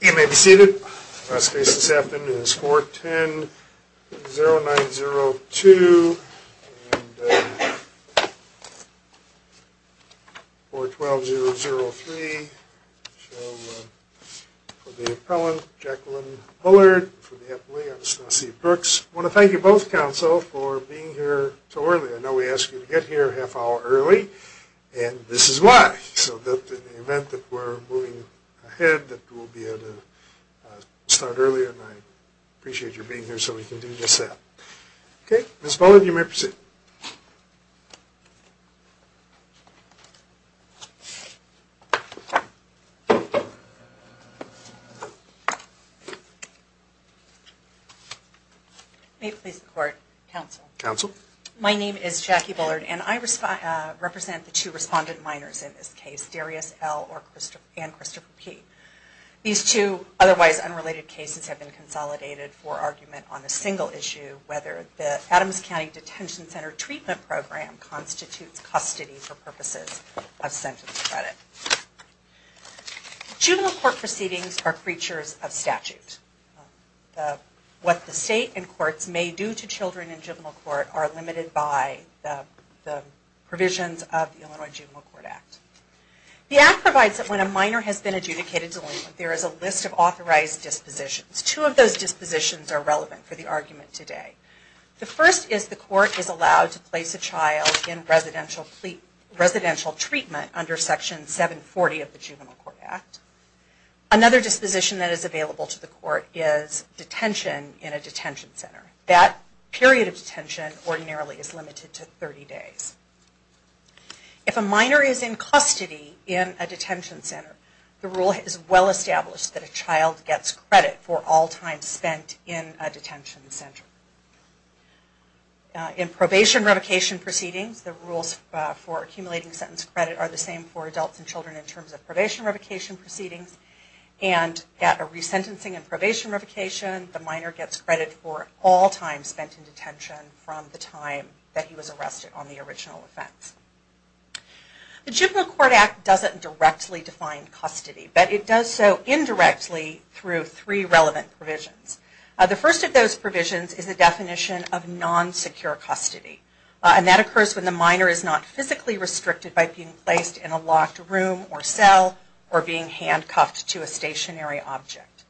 You may be seated. The last case this afternoon is 410-0902 and 412-003 for the appellant Jacqueline Bullard and for the appellee Anastasia Brooks. I want to thank you both counsel for being here so early. I know we asked you to get here a half hour early and this is why. So in the event that we are moving ahead we will be able to start earlier and I appreciate you being here so we can do just that. Ms. Bullard you may proceed. May it please the court, counsel. Counsel. My name is Jackie Bullard and I represent the two respondent minors in this case, Darius L. and Christopher P. These two otherwise unrelated cases have been consolidated for argument on a single issue whether the Adams County Detention Center treatment program constitutes custody for purposes of sentence credit. Juvenile court proceedings are creatures of statute. What the state and courts may do to children in juvenile court are limited by the provisions of the Illinois Juvenile Court Act. The act provides that when a minor has been adjudicated delinquent there is a list of authorized dispositions. Two of those dispositions are relevant for the argument today. The first is the court is allowed to place a child in residential treatment under Section 740 of the Juvenile Court Act. Another disposition that is available to the court is detention in a detention center. That period of detention ordinarily is limited to 30 days. If a minor is in custody in a detention center, the rule is well established that a child gets credit for all time spent in a detention center. In probation revocation proceedings the rules for accumulating sentence credit are the same for adults and children in terms of probation revocation proceedings and at a resentencing and probation revocation the minor gets credit for all time spent in The Juvenile Court Act doesn't directly define custody, but it does so indirectly through three relevant provisions. The first of those provisions is the definition of non-secure custody. That occurs when the minor is not physically restricted by being placed in a locked room or cell or being handcuffed to a stationary object.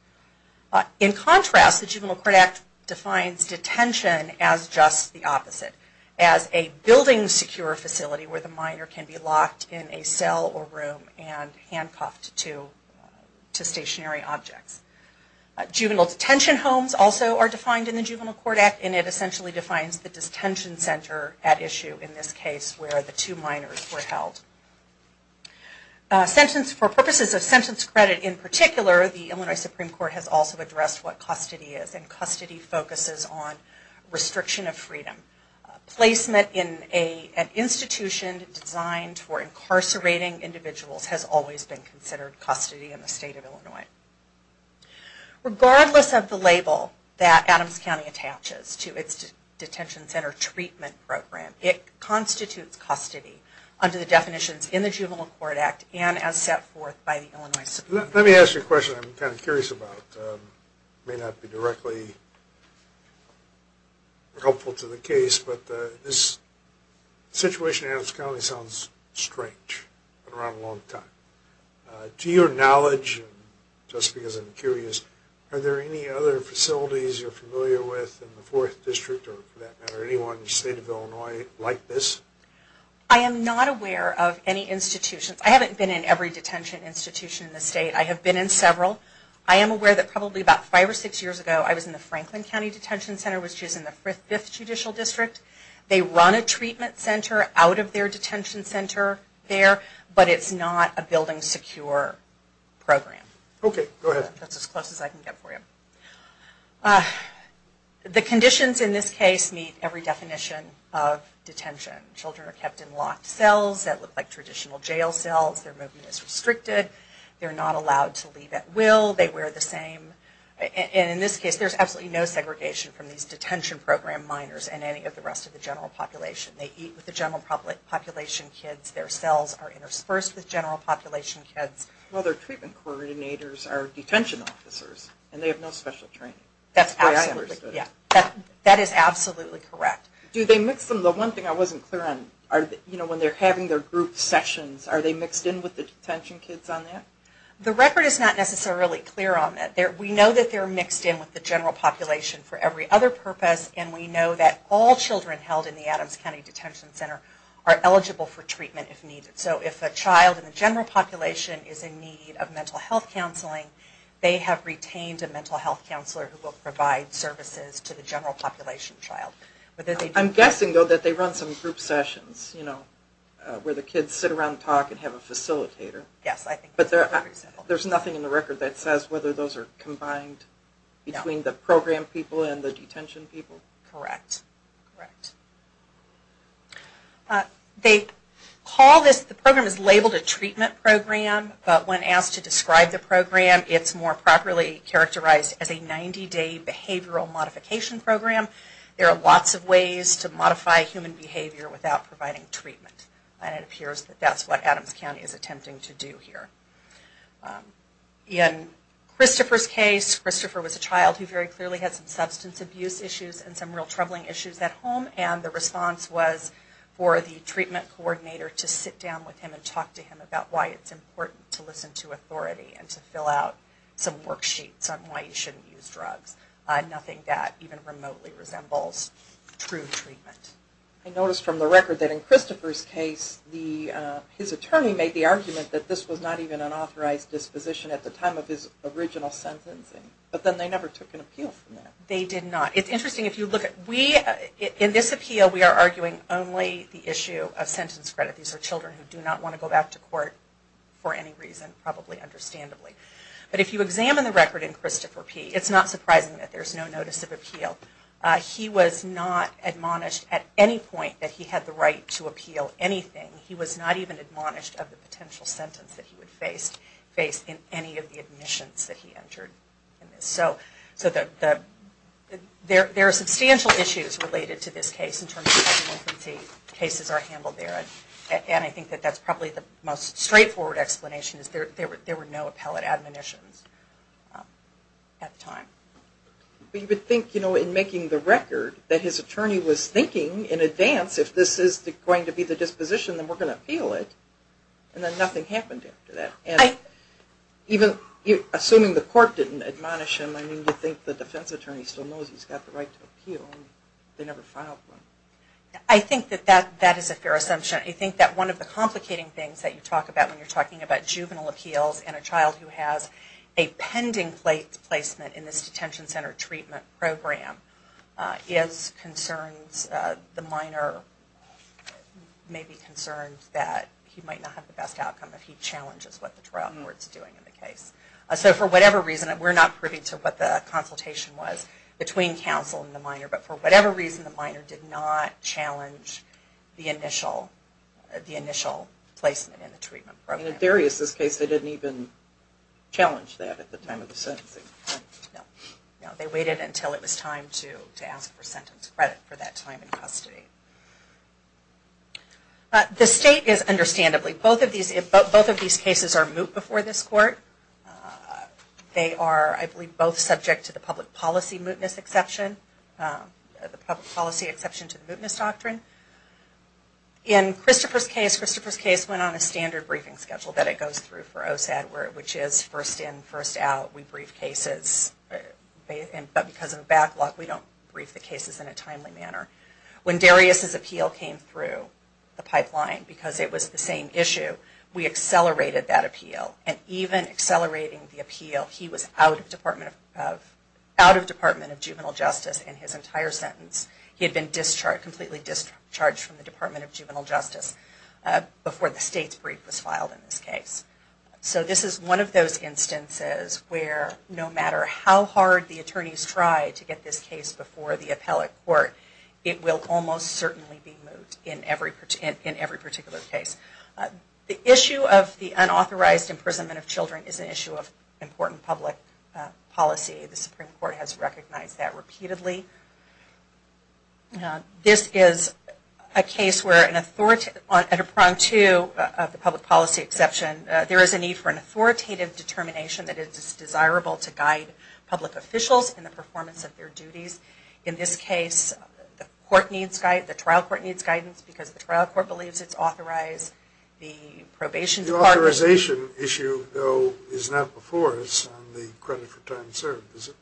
In contrast, the Juvenile Court Act defines detention as just the opposite. As a building secure facility where the minor can be locked in a cell or room and handcuffed to stationary objects. Juvenile detention homes also are defined in the Juvenile Court Act and it essentially defines the detention center at issue in this case where the two minors were held. For purposes of sentence credit in particular, the Illinois Supreme Court has also addressed what custody is. And custody focuses on restriction of freedom. Placement in an institution designed for incarcerating individuals has always been considered custody in the state of Illinois. Regardless of the label that Adams County attaches to its detention center treatment program, it constitutes custody under the definitions in the Juvenile Court Act and as set forth by the Illinois Supreme Court. Let me ask you a question I'm kind of curious about. It may not be directly helpful to the case, but this situation in Adams County sounds strange. Been around a long time. To your knowledge, just because I'm curious, are there any other facilities you're familiar with in the 4th District or for that matter anyone in the state of Illinois like this? I am not aware of any institutions. I haven't been in every detention institution in the state. I have been in several. I am aware that probably about 5 or 6 years ago I was in the Franklin County Detention Center which is in the 5th Judicial District. They run a treatment center out of their detention center there, but it's not a building secure program. That's as close as I can get for you. The conditions in this case meet every definition of detention. Children are kept in locked cells that look like traditional jail cells. Their movement is restricted. They are not allowed to leave at will. In this case there is absolutely no segregation from these detention program minors and any of the rest of the general population. They eat with the general population kids. Their cells are interspersed with general population kids. Their treatment coordinators are detention officers and they have no special training. That is absolutely correct. The one thing I wasn't clear on, when they are having their group sessions, are they mixed in with the detention kids on that? The record is not necessarily clear on that. We know that they are mixed in with the general population for every other purpose and we know that all children held in the Adams County Detention Center are eligible for treatment if needed. So if a child in the general population is in need of mental health counseling, they have retained a mental health counselor who will provide services to the general population child. I'm guessing though that they run some group sessions where the kids sit around and talk and have a facilitator. There is nothing in the record that says whether those are combined between the program people and the detention people? Correct. The program is labeled a treatment program, but when asked to describe the program, it is more properly characterized as a 90 day behavioral modification program. There are lots of ways to modify human behavior without providing treatment. It appears that is what Adams County is attempting to do here. In Christopher's case, Christopher was a child who very clearly had some substance abuse issues and some real troubling issues at home. The response was for the treatment coordinator to sit down with him and talk to him about why it is important to listen to authority and to fill out some worksheets on why you shouldn't use drugs. Nothing that even remotely resembles true treatment. I noticed from the record that in Christopher's case, his attorney made the argument that this was not even an authorized disposition at the time of his original sentencing. But then they never took an appeal from that. They did not. In this appeal, we are arguing only the issue of sentence credit. These are children who do not want to go back to court for any reason, probably understandably. But if you examine the record in Christopher P., it is not surprising that there is no notice of appeal. He was not admonished at any point that he had the right to appeal anything. He was not even admonished of the potential sentence that he would face in any of the admissions that he entered. There are substantial issues related to this case in terms of how cases are handled there. I think that is probably the most straightforward explanation. There were no appellate admonitions at the time. But you would think in making the record that his attorney was thinking in advance if this is going to be the disposition, then we are going to appeal it. And then nothing happened after that. Assuming the court didn't admonish him, do you think the defense attorney still knows he has the right to appeal? I think that is a fair assumption. I think that one of the complicating things that you talk about when you are talking about juvenile appeals and a child who has a pending placement in this detention center treatment program is concerns, the minor may be concerned that he might not have the best outcome if he challenges what the trial court is doing in the case. So for whatever reason, we are not privy to what the consultation was between counsel and the minor, but for whatever reason the minor did not challenge the initial placement in the treatment program. In Darius' case they didn't even challenge that at the time of the sentencing. No, they waited until it was time to ask for sentence credit for that time in custody. The state is understandably, both of these cases are moot before this court. They are, I believe, both subject to the public policy mootness exception, the public policy exception to the mootness doctrine. In Christopher's case, Christopher's case went on a standard briefing schedule that it goes through for OSAD, which is first in, first out. We brief cases, but because of the backlog we don't brief the cases in a timely manner. When Darius' appeal came through the pipeline, because it was the same issue, we accelerated that appeal. And even accelerating the appeal, he was out of Department of Juvenile Justice in his entire sentence. He had been discharged, completely discharged from the Department of Juvenile Justice before the state's brief was filed in this case. So this is one of those instances where no matter how hard the attorneys try to get this case before the appellate court, it will almost certainly be moot in every particular case. The issue of the unauthorized imprisonment of children is an issue of important public policy. The Supreme Court has recognized that repeatedly. This is a case where at a prong two of the public policy exception, there is a need for an authoritative determination that it is desirable to guide public officials in the performance of their duties. In this case, the trial court needs guidance because the trial court believes it's authorized. The authorization issue, though, is not before us on the credit for time served, is it?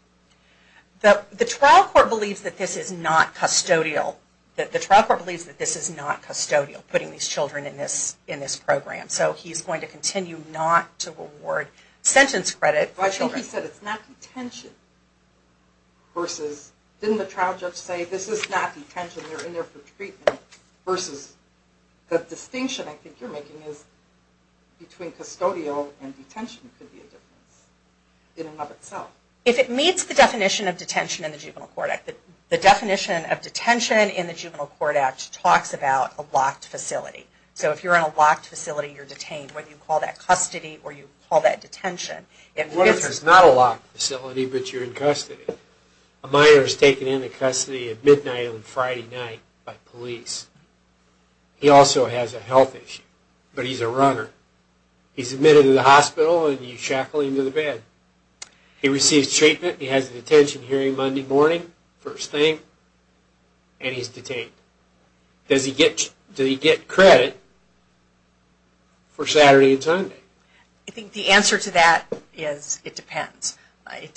The trial court believes that this is not custodial. Putting these children in this program. So he's going to continue not to reward sentence credit. I think he said it's not detention. Didn't the trial judge say this is not detention? They're in there for treatment. The distinction I think you're making is between custodial and detention could be a difference. If it meets the definition of detention in the Juvenile Court Act. The definition of detention in the Juvenile Court Act talks about a locked facility. If you're in a locked facility, you're detained. Whether you call that custody or you call that detention. It's not a locked facility, but you're in custody. A minor is taken into custody at midnight on a Friday night by police. He also has a health issue, but he's a runner. He's admitted to the hospital and you shackle him to the bed. He receives treatment, he has a detention hearing Monday morning, first thing, and he's detained. Does he get credit for Saturday and Sunday? I think the answer to that is it depends. As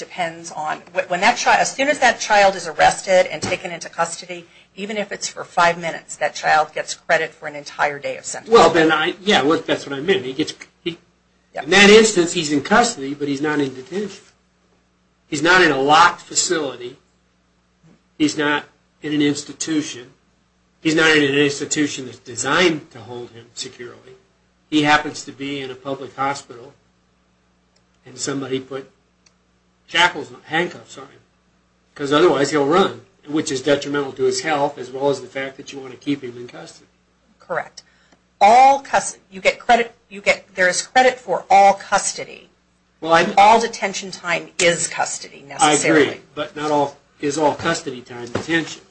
soon as that child is arrested and taken into custody, even if it's for five minutes, that child gets credit for an entire day of sentencing. That's what I meant. In that instance, he's in custody, but he's not in detention. He's not in a locked facility. He's not in an institution. He's not in an institution that's designed to hold him securely. He happens to be in a public hospital and somebody put handcuffs on him. Because otherwise he'll run, which is detrimental to his health as well as the fact that you want to keep him in custody. Correct. There is credit for all custody. All detention time is custody, necessarily. I agree, but not all is all custody time detention.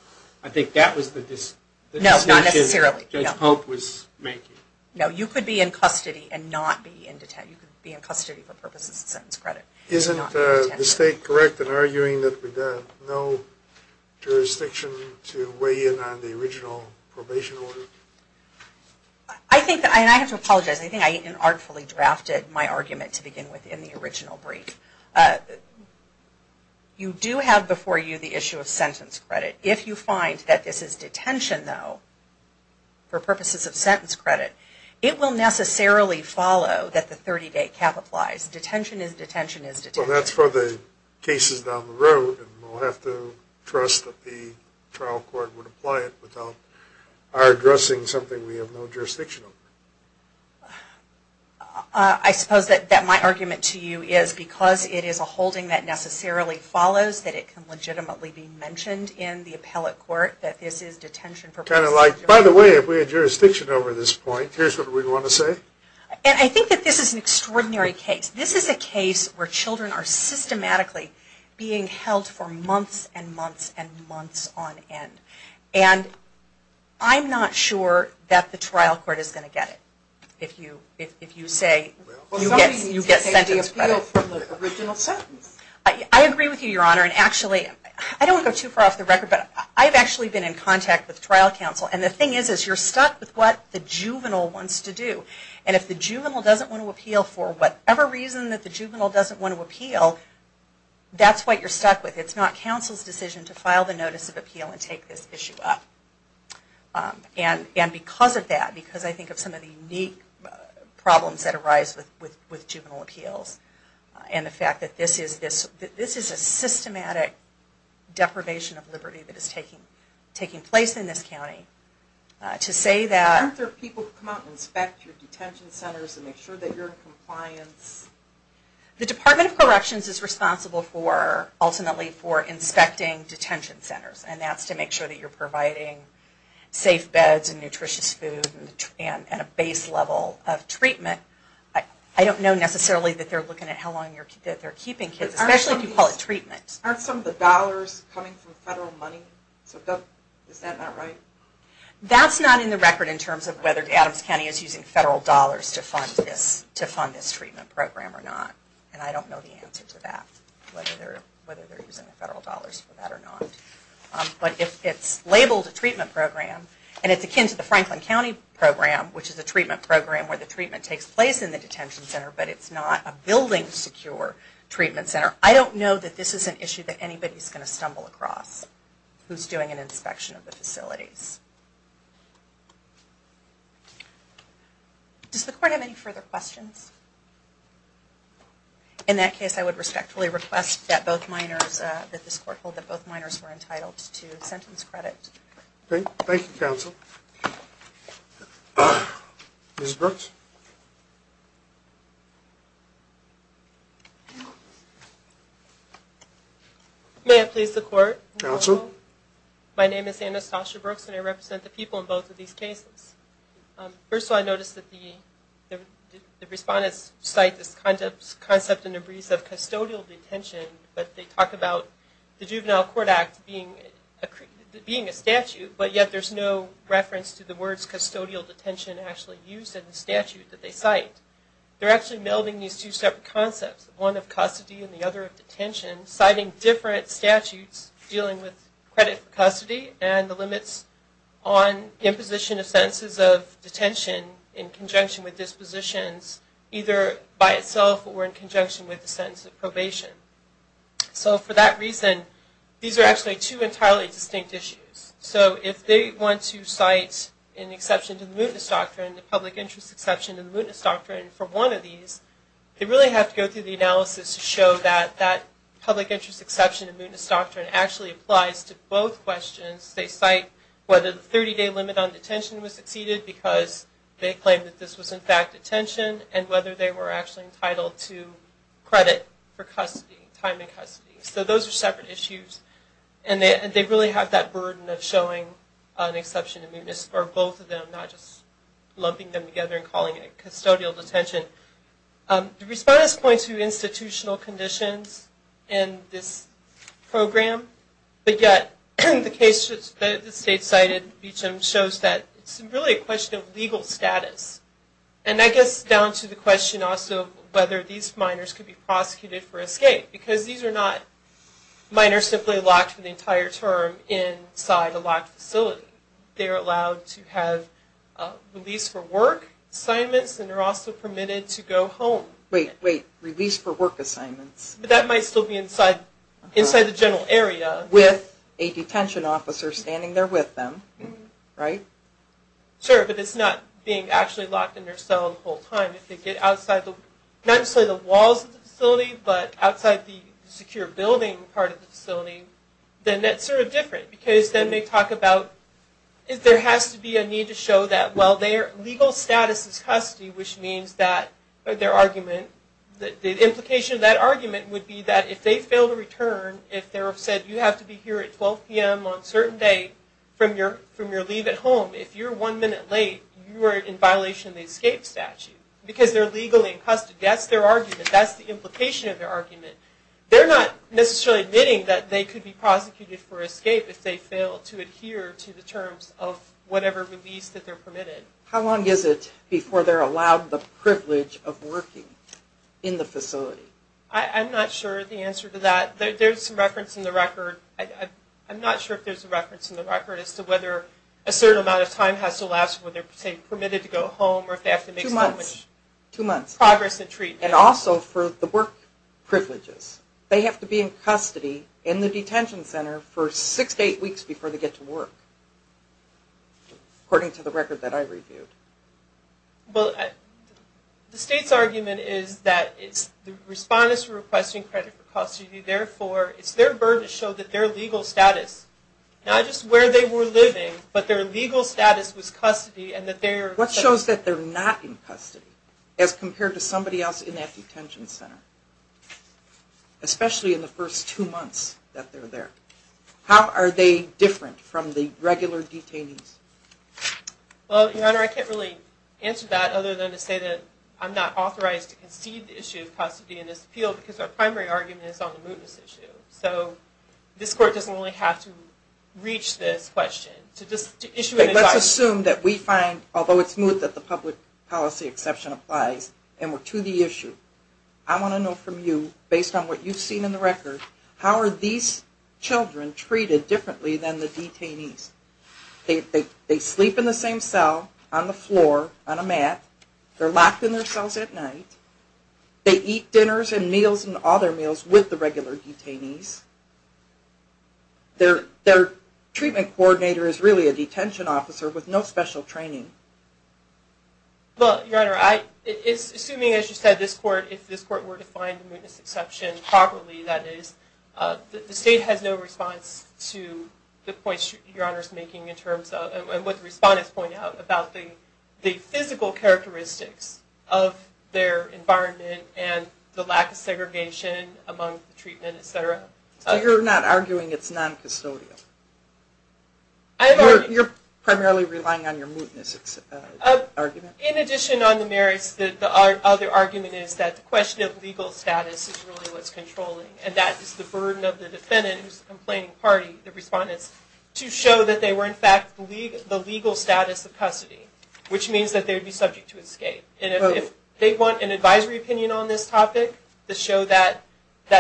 I think that was the distinction Judge Pope was making. No, you could be in custody and not be in detention. You could be in custody for purposes of sentence credit. Isn't the state correct in arguing that there is no jurisdiction to weigh in on the original probation order? I have to apologize. I think I unartfully drafted my argument to begin with in the original brief. You do have before you the issue of sentence credit. If you find that this is detention, though, for purposes of sentence credit, it will necessarily follow that the 30-day cap applies. Detention is detention is detention. That's for the cases down the road and we'll have to trust that the trial court would apply it without our addressing something we have no jurisdiction over. I suppose that my argument to you is because it is a holding that necessarily follows that it can legitimately be mentioned in the appellate court that this is detention for purposes of sentence credit. By the way, if we had jurisdiction over this point, here's what we'd want to say. I think that this is an extraordinary case. This is a case where children are systematically being held for months and months and months on end. I'm not sure that the trial court is going to get it. I agree with you, Your Honor. I don't want to go too far off the record, but I've actually been in contact with trial counsel. The thing is you're stuck with what the juvenile wants to do. If the juvenile doesn't want to appeal for whatever reason that the juvenile doesn't want to appeal, that's what you're stuck with. It's not counsel's decision to file the notice of appeal and take this issue up. Because of that, because I think of some of the unique problems that arise with juvenile appeals and the fact that this is a systematic deprivation of liberty that is taking place in this county. Aren't there people who come out and inspect your detention centers and make sure that you're in compliance? The Department of Corrections is responsible ultimately for inspecting detention centers. And that's to make sure that you're providing safe beds and nutritious food and a base level of treatment. I don't know necessarily that they're looking at how long they're keeping kids, especially if you call it treatment. Aren't some of the dollars coming from federal money? Is that not right? That's not in the record in terms of whether Adams County is using federal dollars to fund this treatment program or not. And I don't know the answer to that, whether they're using federal dollars for that or not. But if it's labeled a treatment program and it's akin to the Franklin County program, which is a treatment program where the treatment takes place in the detention center, but it's not a building secure treatment center, I don't know that this is an issue that anybody's going to stumble across who's doing an inspection of the facilities. Does the court have any further questions? In that case, I would respectfully request that this court hold that both minors were entitled to sentence credit. Thank you, counsel. Ms. Brooks? May I please the court? My name is Anastasia Brooks and I represent the people in both of these cases. First of all, I noticed that the respondents cite this concept of custodial detention, but they talk about the Juvenile Court Act being a statute, but yet there's no reference to the words custodial detention actually used in the statute that they cite. They're actually melding these two separate concepts, one of custody and the other of detention, citing different statutes dealing with credit for custody and the limits on imposition of sentences of detention in conjunction with dispositions either by itself or in conjunction with the sentence of probation. So for that reason, these are actually two entirely distinct issues. So if they want to cite an exception to the mootness doctrine, a public interest exception to the mootness doctrine for one of these, they really have to go through the analysis to show that that public interest exception to the mootness doctrine actually applies to both questions. They cite whether the 30-day limit on detention was exceeded because they claimed that this was in fact detention and whether they were actually entitled to credit for custody, time in custody. So those are separate issues and they really have that burden of showing an exception to mootness for both of them, not just lumping them together and calling it custodial detention. The respondents point to institutional conditions in this program, but yet the case that the state cited shows that it's really a question of legal status. And I guess down to the question also of whether these minors could be prosecuted for escape, because these are not minors simply locked for the entire term inside a locked facility. They're allowed to have release for work assignments and are also permitted to go home. Wait, wait, release for work assignments. That might still be inside the general area. With a detention officer standing there with them, right? Sure, but it's not being actually locked in their cell the whole time. If they get outside, not necessarily the walls of the facility, but outside the secure building part of the facility, then that's sort of different because then they talk about, there has to be a need to show that while their legal status is custody, which means that their argument, the implication of that argument would be that if they fail to return, if they're said, you have to be here at 12 p.m. on a certain day from your leave at home, if you're one minute late, you are in violation of the escape statute because they're legally in custody. That's their argument. That's the implication of their argument. They're not necessarily admitting that they could be prosecuted for escape if they fail to adhere to the terms of whatever release that they're permitted. How long is it before they're allowed the privilege of working in the facility? I'm not sure the answer to that. There's some reference in the record. I'm not sure if there's a reference in the record as to whether a certain amount of time has to last when they're, say, permitted to go home or if they have to make some progress in treatment. And also for the work privileges. They have to be in custody in the detention center for six to eight weeks before they get to work, according to the record that I reviewed. Well, the state's argument is that the respondent is requesting credit for custody, therefore it's their burden to show that their legal status, not just where they were living, but their legal status was custody. What shows that they're not in custody as compared to somebody else in that detention center? Especially in the first two months that they're there. How are they different from the regular detainees? Well, Your Honor, I can't really answer that other than to say that I'm not authorized to concede the issue of custody in this appeal because our primary argument is on the mootness issue. So this court doesn't really have to reach this question. Let's assume that we find, although it's moot that the public policy exception applies, and we're to the issue. I want to know from you, based on what you've seen in the record, how are these children treated differently than the detainees? They sleep in the same cell, on the floor, on a mat. They're locked in their cells at night. They eat dinners and meals and all their meals with the regular detainees. Their treatment coordinator is really a detention officer with no special training. Well, Your Honor, assuming, as you said, if this court were to find the mootness exception properly, that is, the state has no response to the points Your Honor is making, and what the respondents point out about the physical characteristics of their environment and the lack of segregation among the treatment, etc. So you're not arguing it's non-custodial? You're primarily relying on your mootness argument? In addition on the merits, the other argument is that the question of legal status is really what's controlling, and that is the burden of the defendant who's the complaining party, the respondents, to show that they were in fact the legal status of custody, which means that they would be subject to escape. And if they want an advisory opinion on this topic to show that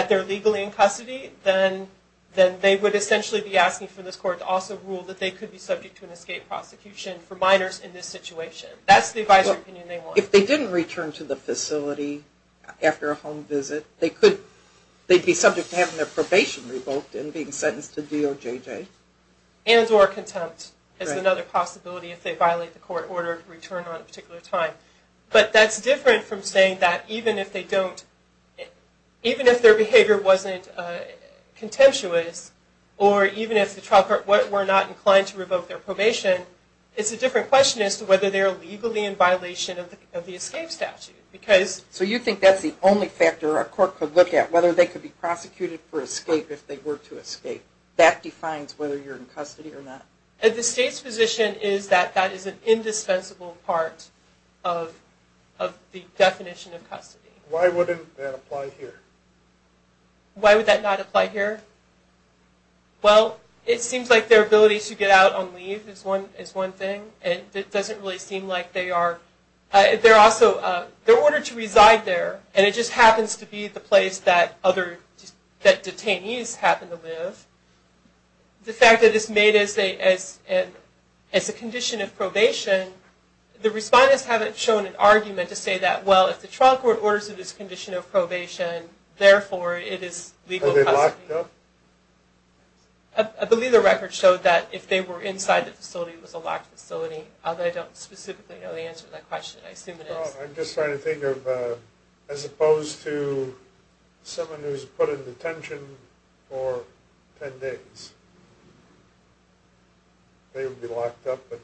they're legally in custody, then they would essentially be asking for this court to also rule that they could be subject to an escape prosecution for minors in this situation. That's the advisory opinion they want. If they didn't return to the facility after a home visit, they'd be subject to having their probation revoked and being sentenced to DOJJ. And or contempt is another possibility if they violate the court order to return on a particular time. But that's different from saying that even if their behavior wasn't contemptuous, or even if the child court were not inclined to revoke their probation, it's a different question as to whether they're legally in violation of the escape statute. So you think that's the only factor a court could look at, whether they could be prosecuted for escape if they were to escape. That defines whether you're in custody or not? The state's position is that that is an indispensable part of the definition of custody. Why wouldn't that apply here? Why would that not apply here? Well, it seems like their ability to get out on leave is one thing, and it doesn't really seem like they are. They're ordered to reside there, and it just happens to be the place that detainees happen to live. The fact that it's made as a condition of probation, the respondents haven't shown an argument to say that, well, if the trial court orders it as a condition of probation, therefore it is legal custody. I believe the record showed that if they were inside the facility, it was a locked facility, although I don't specifically know the answer to that question. I'm just trying to think of, as opposed to someone who's put in detention for 10 days, they would be locked up, and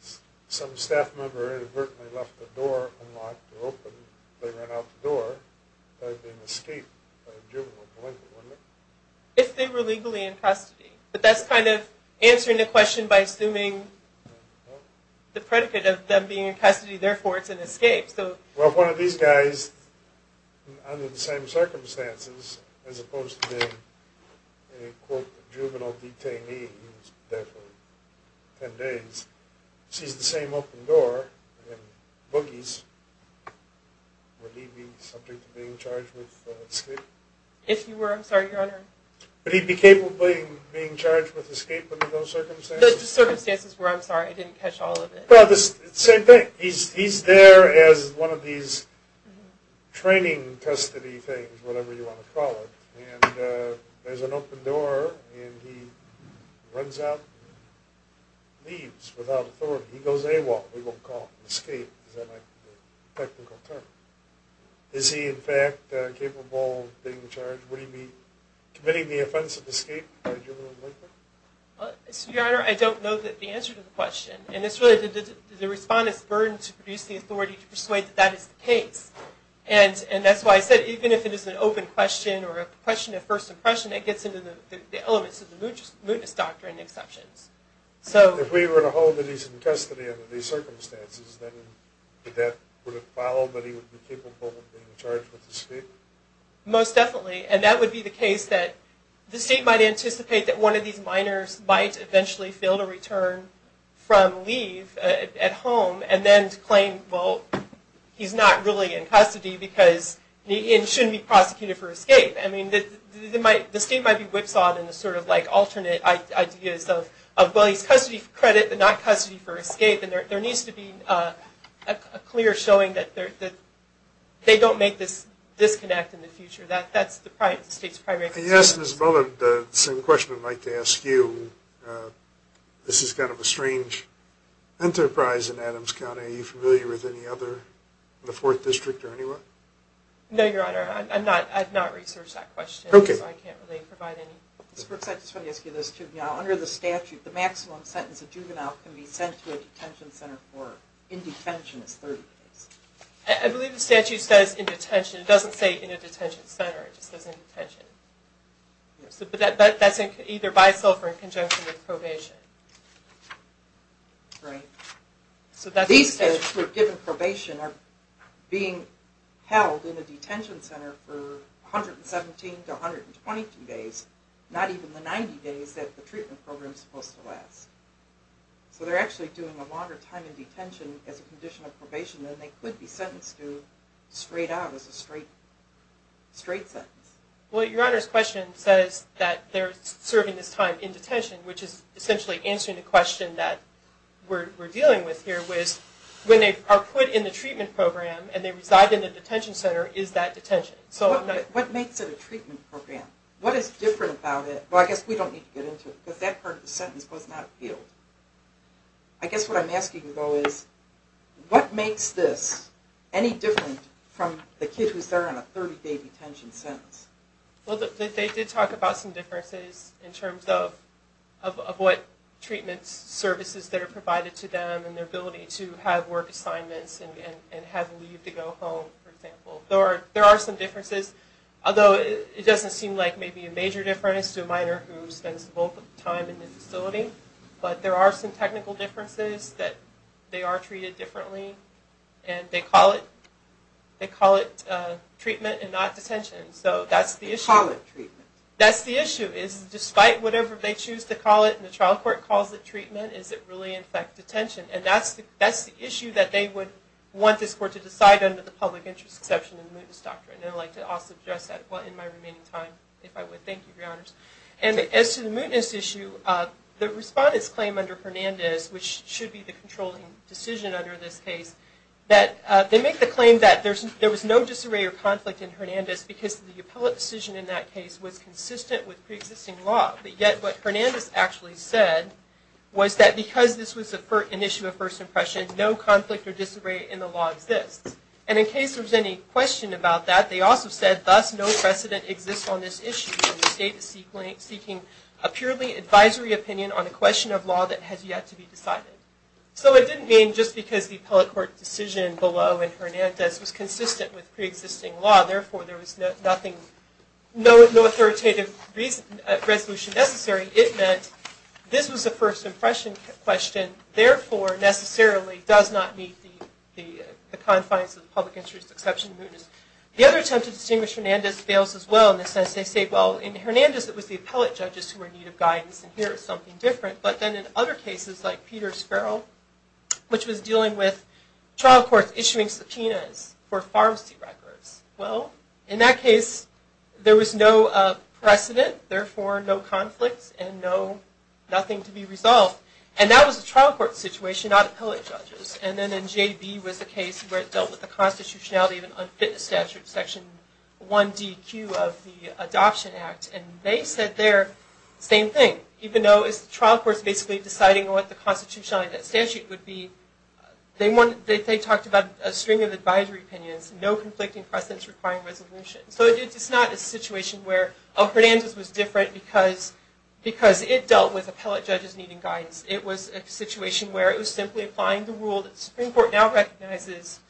if some staff member inadvertently left the door unlocked or open, they ran out the door, that would be an escape. If they were legally in custody. But that's kind of answering the question by assuming the predicate of them being in custody, therefore it's an escape. Well, if one of these guys, under the same circumstances, as opposed to being a, quote, juvenile detainee, who was there for 10 days, sees the same open door and boogies, would he be subject to being charged with escape? If he were, I'm sorry, Your Honor. Would he be capable of being charged with escape under those circumstances? The circumstances were, I'm sorry, I didn't catch all of it. Well, it's the same thing. He's there as one of these training custody things, whatever you want to call it, and there's an open door and he runs out and leaves without authority. He goes AWOL, we won't call it escape, because that might be a technical term. Is he, in fact, capable of being charged? Would he be committing the offense of escape, a juvenile delinquent? Well, Your Honor, I don't know the answer to the question. And it's really the respondent's burden to produce the authority to persuade that that is the case. And that's why I said even if it is an open question or a question of first impression, it gets into the elements of the mootness doctrine exceptions. If we were to hold that he's in custody under these circumstances, then would it follow that he would be capable of being charged with escape? Most definitely, and that would be the case that the state might anticipate that one of these minors might eventually feel the return from leave at home and then claim, well, he's not really in custody because he shouldn't be prosecuted for escape. I mean, the state might be whipsawed in the sort of like alternate ideas of, well, he's custody for credit but not custody for escape, and there needs to be a clear showing that they don't make this disconnect in the future. That's the state's primary concern. Yes, Ms. Bullard, the same question I'd like to ask you. This is kind of a strange enterprise in Adams County. Are you familiar with any other in the Fourth District or anywhere? No, Your Honor, I've not researched that question, so I can't really provide any. Ms. Brooks, I just want to ask you this too. Under the statute, the maximum sentence a juvenile can be sent to a detention center for in detention is 30 days. I believe the statute says in detention. It doesn't say in a detention center, it just says in detention. But that's either by itself or in conjunction with probation. Right. These kids who are given probation are being held in a detention center for 117 to 122 days, not even the 90 days that the treatment program is supposed to last. So they're actually doing a longer time in detention as a condition of probation than they could be sentenced to straight out as a straight sentence. Well, Your Honor's question says that they're serving this time in detention, which is essentially answering the question that we're dealing with here, which is when they are put in the treatment program and they reside in the detention center, is that detention? What makes it a treatment program? What is different about it? Well, I guess we don't need to get into it, because that part of the sentence goes out of field. I guess what I'm asking, though, is what makes this any different from the kid who's there on a 30-day detention sentence? Well, they did talk about some differences in terms of what treatment services that are provided to them and their ability to have work assignments and have leave to go home, for example. There are some differences, although it doesn't seem like maybe a major difference to a minor who spends most of the time in the facility. But there are some technical differences that they are treated differently, and they call it treatment and not detention. So that's the issue. They call it treatment. That's the issue, is despite whatever they choose to call it, and the trial court calls it treatment, does it really affect detention? And that's the issue that they would want this court to decide under the public interest exception in the mootness doctrine. And I'd like to also address that in my remaining time, if I would. Thank you, Your Honors. And as to the mootness issue, the respondent's claim under Hernandez, which should be the controlling decision under this case, that they make the claim that there was no disarray or conflict in Hernandez because the appellate decision in that case was consistent with preexisting law. But yet what Hernandez actually said was that because this was an issue of first impression, no conflict or disarray in the law exists. And in case there's any question about that, they also said, thus no precedent exists on this issue, and the state is seeking a purely advisory opinion on a question of law that has yet to be decided. So it didn't mean just because the appellate court decision below in Hernandez was consistent with preexisting law, therefore there was no authoritative resolution necessary. It meant this was a first impression question, therefore necessarily does not meet the confines of the public interest exception mootness. The other attempt to distinguish Hernandez fails as well in the sense they say, well, in Hernandez it was the appellate judges who were in need of guidance, and here it's something different. But then in other cases like Peter Sparrow, which was dealing with trial courts issuing subpoenas for pharmacy records, well, in that case there was no precedent, therefore no conflict and nothing to be resolved. And that was a trial court situation, not appellate judges. And then in J.B. was the case where it dealt with the constitutionality of an unfit statute, Section 1DQ of the Adoption Act. And they said there, same thing. Even though it's the trial courts basically deciding what the constitutionality of that statute would be, they talked about a string of advisory opinions, no conflicting precedents requiring resolution. So it's not a situation where, oh, Hernandez was different because it dealt with appellate judges needing guidance. It was a situation where it was simply applying the rule that the Supreme Court now recognizes,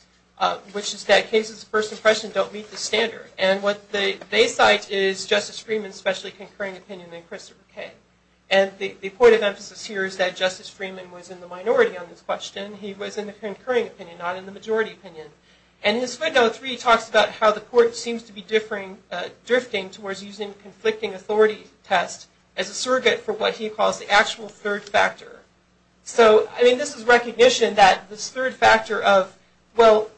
which is that cases of first impression don't meet the standard. And what they cite is Justice Freeman's specially concurring opinion and Christopher Kaye. And the point of emphasis here is that Justice Freeman was in the minority on this question. He was in the concurring opinion, not in the majority opinion. And his window three talks about how the court seems to be drifting towards using conflicting authority tests as a surrogate for what he calls the actual third factor. So, I mean, this is recognition that this third factor of, well,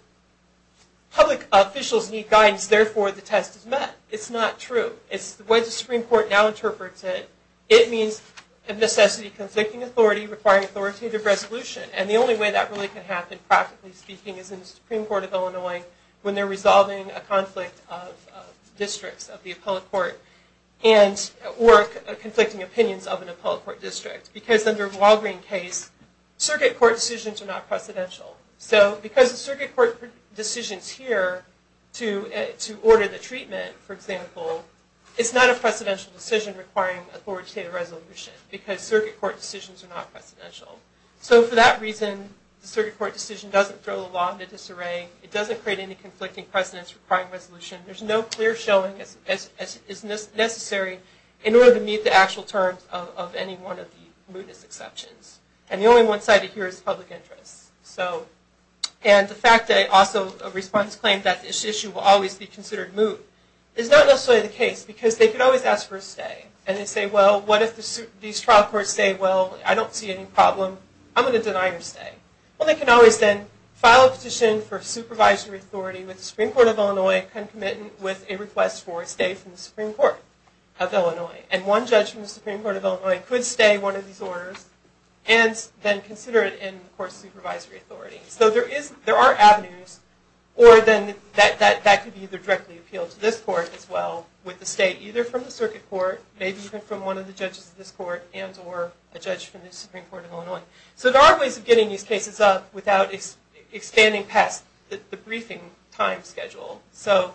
public officials need guidance, which means, therefore, the test is met. It's not true. It's the way the Supreme Court now interprets it. It means a necessity conflicting authority requiring authoritative resolution. And the only way that really can happen, practically speaking, is in the Supreme Court of Illinois when they're resolving a conflict of districts of the appellate court or conflicting opinions of an appellate court district. Because under Walgreen's case, surrogate court decisions are not precedential. So because the surrogate court decisions here to order the treatment, for example, it's not a precedential decision requiring authoritative resolution because surrogate court decisions are not precedential. So for that reason, the surrogate court decision doesn't throw the law into disarray. It doesn't create any conflicting precedents requiring resolution. There's no clear showing as is necessary in order to meet the actual terms of any one of the mootness exceptions. And the only one cited here is public interest. And the fact that also a response claim that this issue will always be considered moot is not necessarily the case because they could always ask for a stay. And they say, well, what if these trial courts say, well, I don't see any problem. I'm going to deny your stay. Well, they can always then file a petition for supervisory authority with the Supreme Court of Illinois and commit with a request for a stay from the Supreme Court of Illinois. And one judge from the Supreme Court of Illinois could stay one of these orders and then consider it in the court's supervisory authority. So there are avenues, or then that could be either directly appealed to this court as well with a stay either from the circuit court, maybe even from one of the judges of this court, and or a judge from the Supreme Court of Illinois. So there are ways of getting these cases up without expanding past the briefing time schedule. So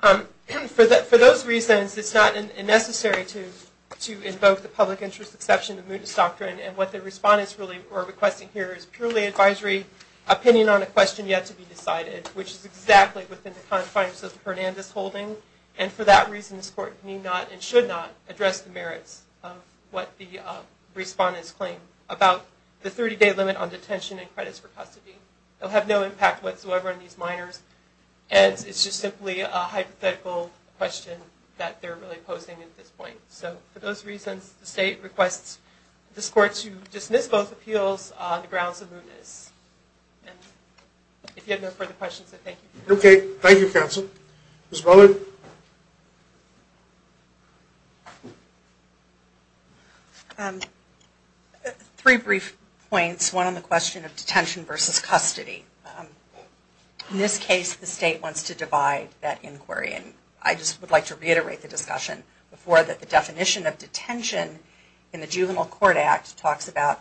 for those reasons, it's not necessary to invoke the public interest exception, the mootest doctrine, and what the respondents really are requesting here is purely advisory opinion on a question yet to be decided, which is exactly within the confines of the Hernandez holding. And for that reason, this court need not and should not address the merits of what the respondents claim about the 30-day limit on detention and credits for custody. It will have no impact whatsoever on these minors, and it's just simply a hypothetical question that they're really posing at this point. So for those reasons, the state requests this court to dismiss both appeals on the grounds of mootness. And if you have no further questions, I thank you. Okay. Thank you, counsel. Ms. Bullard? Three brief points, one on the question of detention versus custody. In this case, the state wants to divide that inquiry, and I just would like to reiterate the discussion before that the definition of detention in the Juvenile Court Act talks about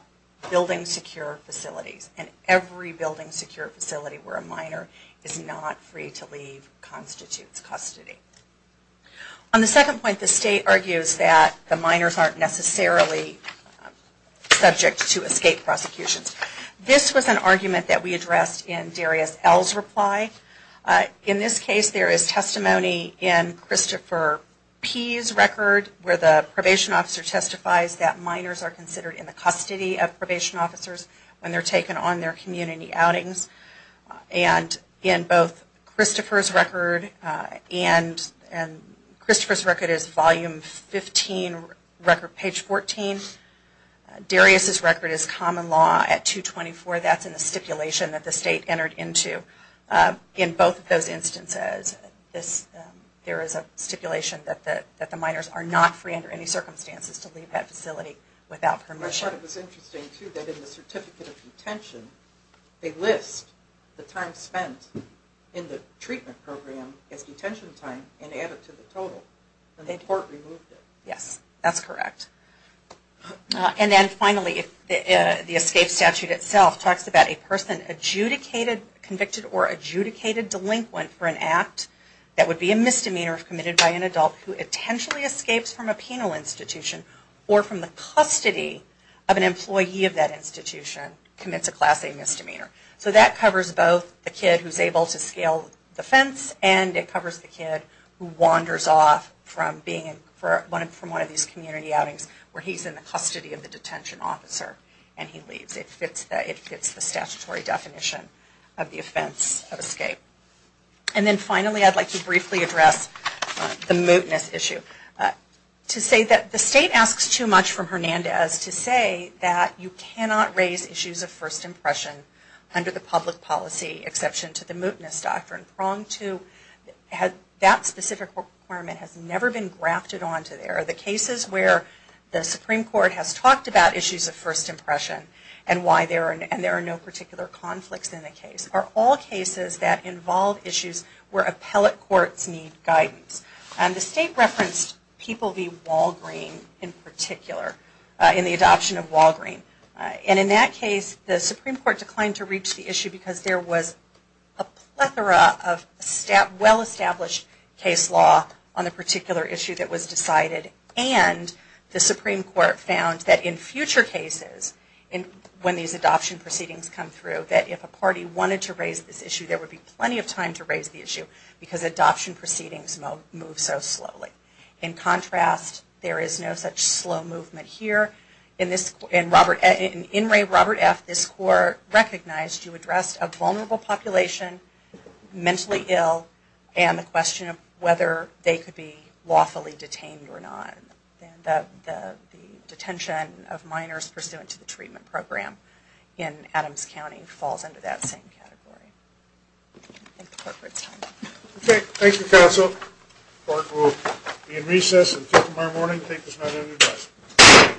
building secure facilities, and every building secure facility where a minor is not free to leave constitutes custody. On the second point, the state argues that the minors aren't necessarily subject to escape prosecutions. This was an argument that we addressed in Darius L's reply. In this case, there is testimony in Christopher P's record, where the probation officer testifies that minors are considered in the custody of probation officers when they're taken on their community outings. And in both Christopher's record, and Christopher's record is volume 15, record page 14, Darius's record is common law at 224. So that's in the stipulation that the state entered into. In both of those instances, there is a stipulation that the minors are not free under any circumstances to leave that facility without permission. That part was interesting, too, that in the certificate of detention, they list the time spent in the treatment program as detention time and add it to the total, and the court removed it. Yes, that's correct. And then finally, the escape statute itself talks about a person adjudicated, convicted, or adjudicated delinquent for an act that would be a misdemeanor committed by an adult who intentionally escapes from a penal institution, or from the custody of an employee of that institution, commits a Class A misdemeanor. So that covers both the kid who's able to scale the fence, and it covers the kid who wanders off from one of these community outings where he's in the custody of the detention officer and he leaves. It fits the statutory definition of the offense of escape. And then finally, I'd like to briefly address the mootness issue. To say that the state asks too much from Hernandez to say that you cannot raise issues of first impression under the public policy exception to the mootness doctrine. That specific requirement has never been grafted onto there. The cases where the Supreme Court has talked about issues of first impression, and there are no particular conflicts in the case, are all cases that involve issues where appellate courts need guidance. And the state referenced People v. Walgreen in particular, in the adoption of Walgreen. And in that case, the Supreme Court declined to reach the issue, because there was a plethora of well-established case law on the particular issue that was decided. And the Supreme Court found that in future cases, when these adoption proceedings come through, that if a party wanted to raise this issue, there would be plenty of time to raise the issue, because adoption proceedings move so slowly. In contrast, there is no such slow movement here. In Robert F., this court recognized you addressed a vulnerable population, mentally ill, and the question of whether they could be lawfully detained or not. The detention of minors pursuant to the treatment program in Adams County falls under that same category. Okay, thank you counsel. Court will be in recess until tomorrow morning. Thank you for spending the day with us.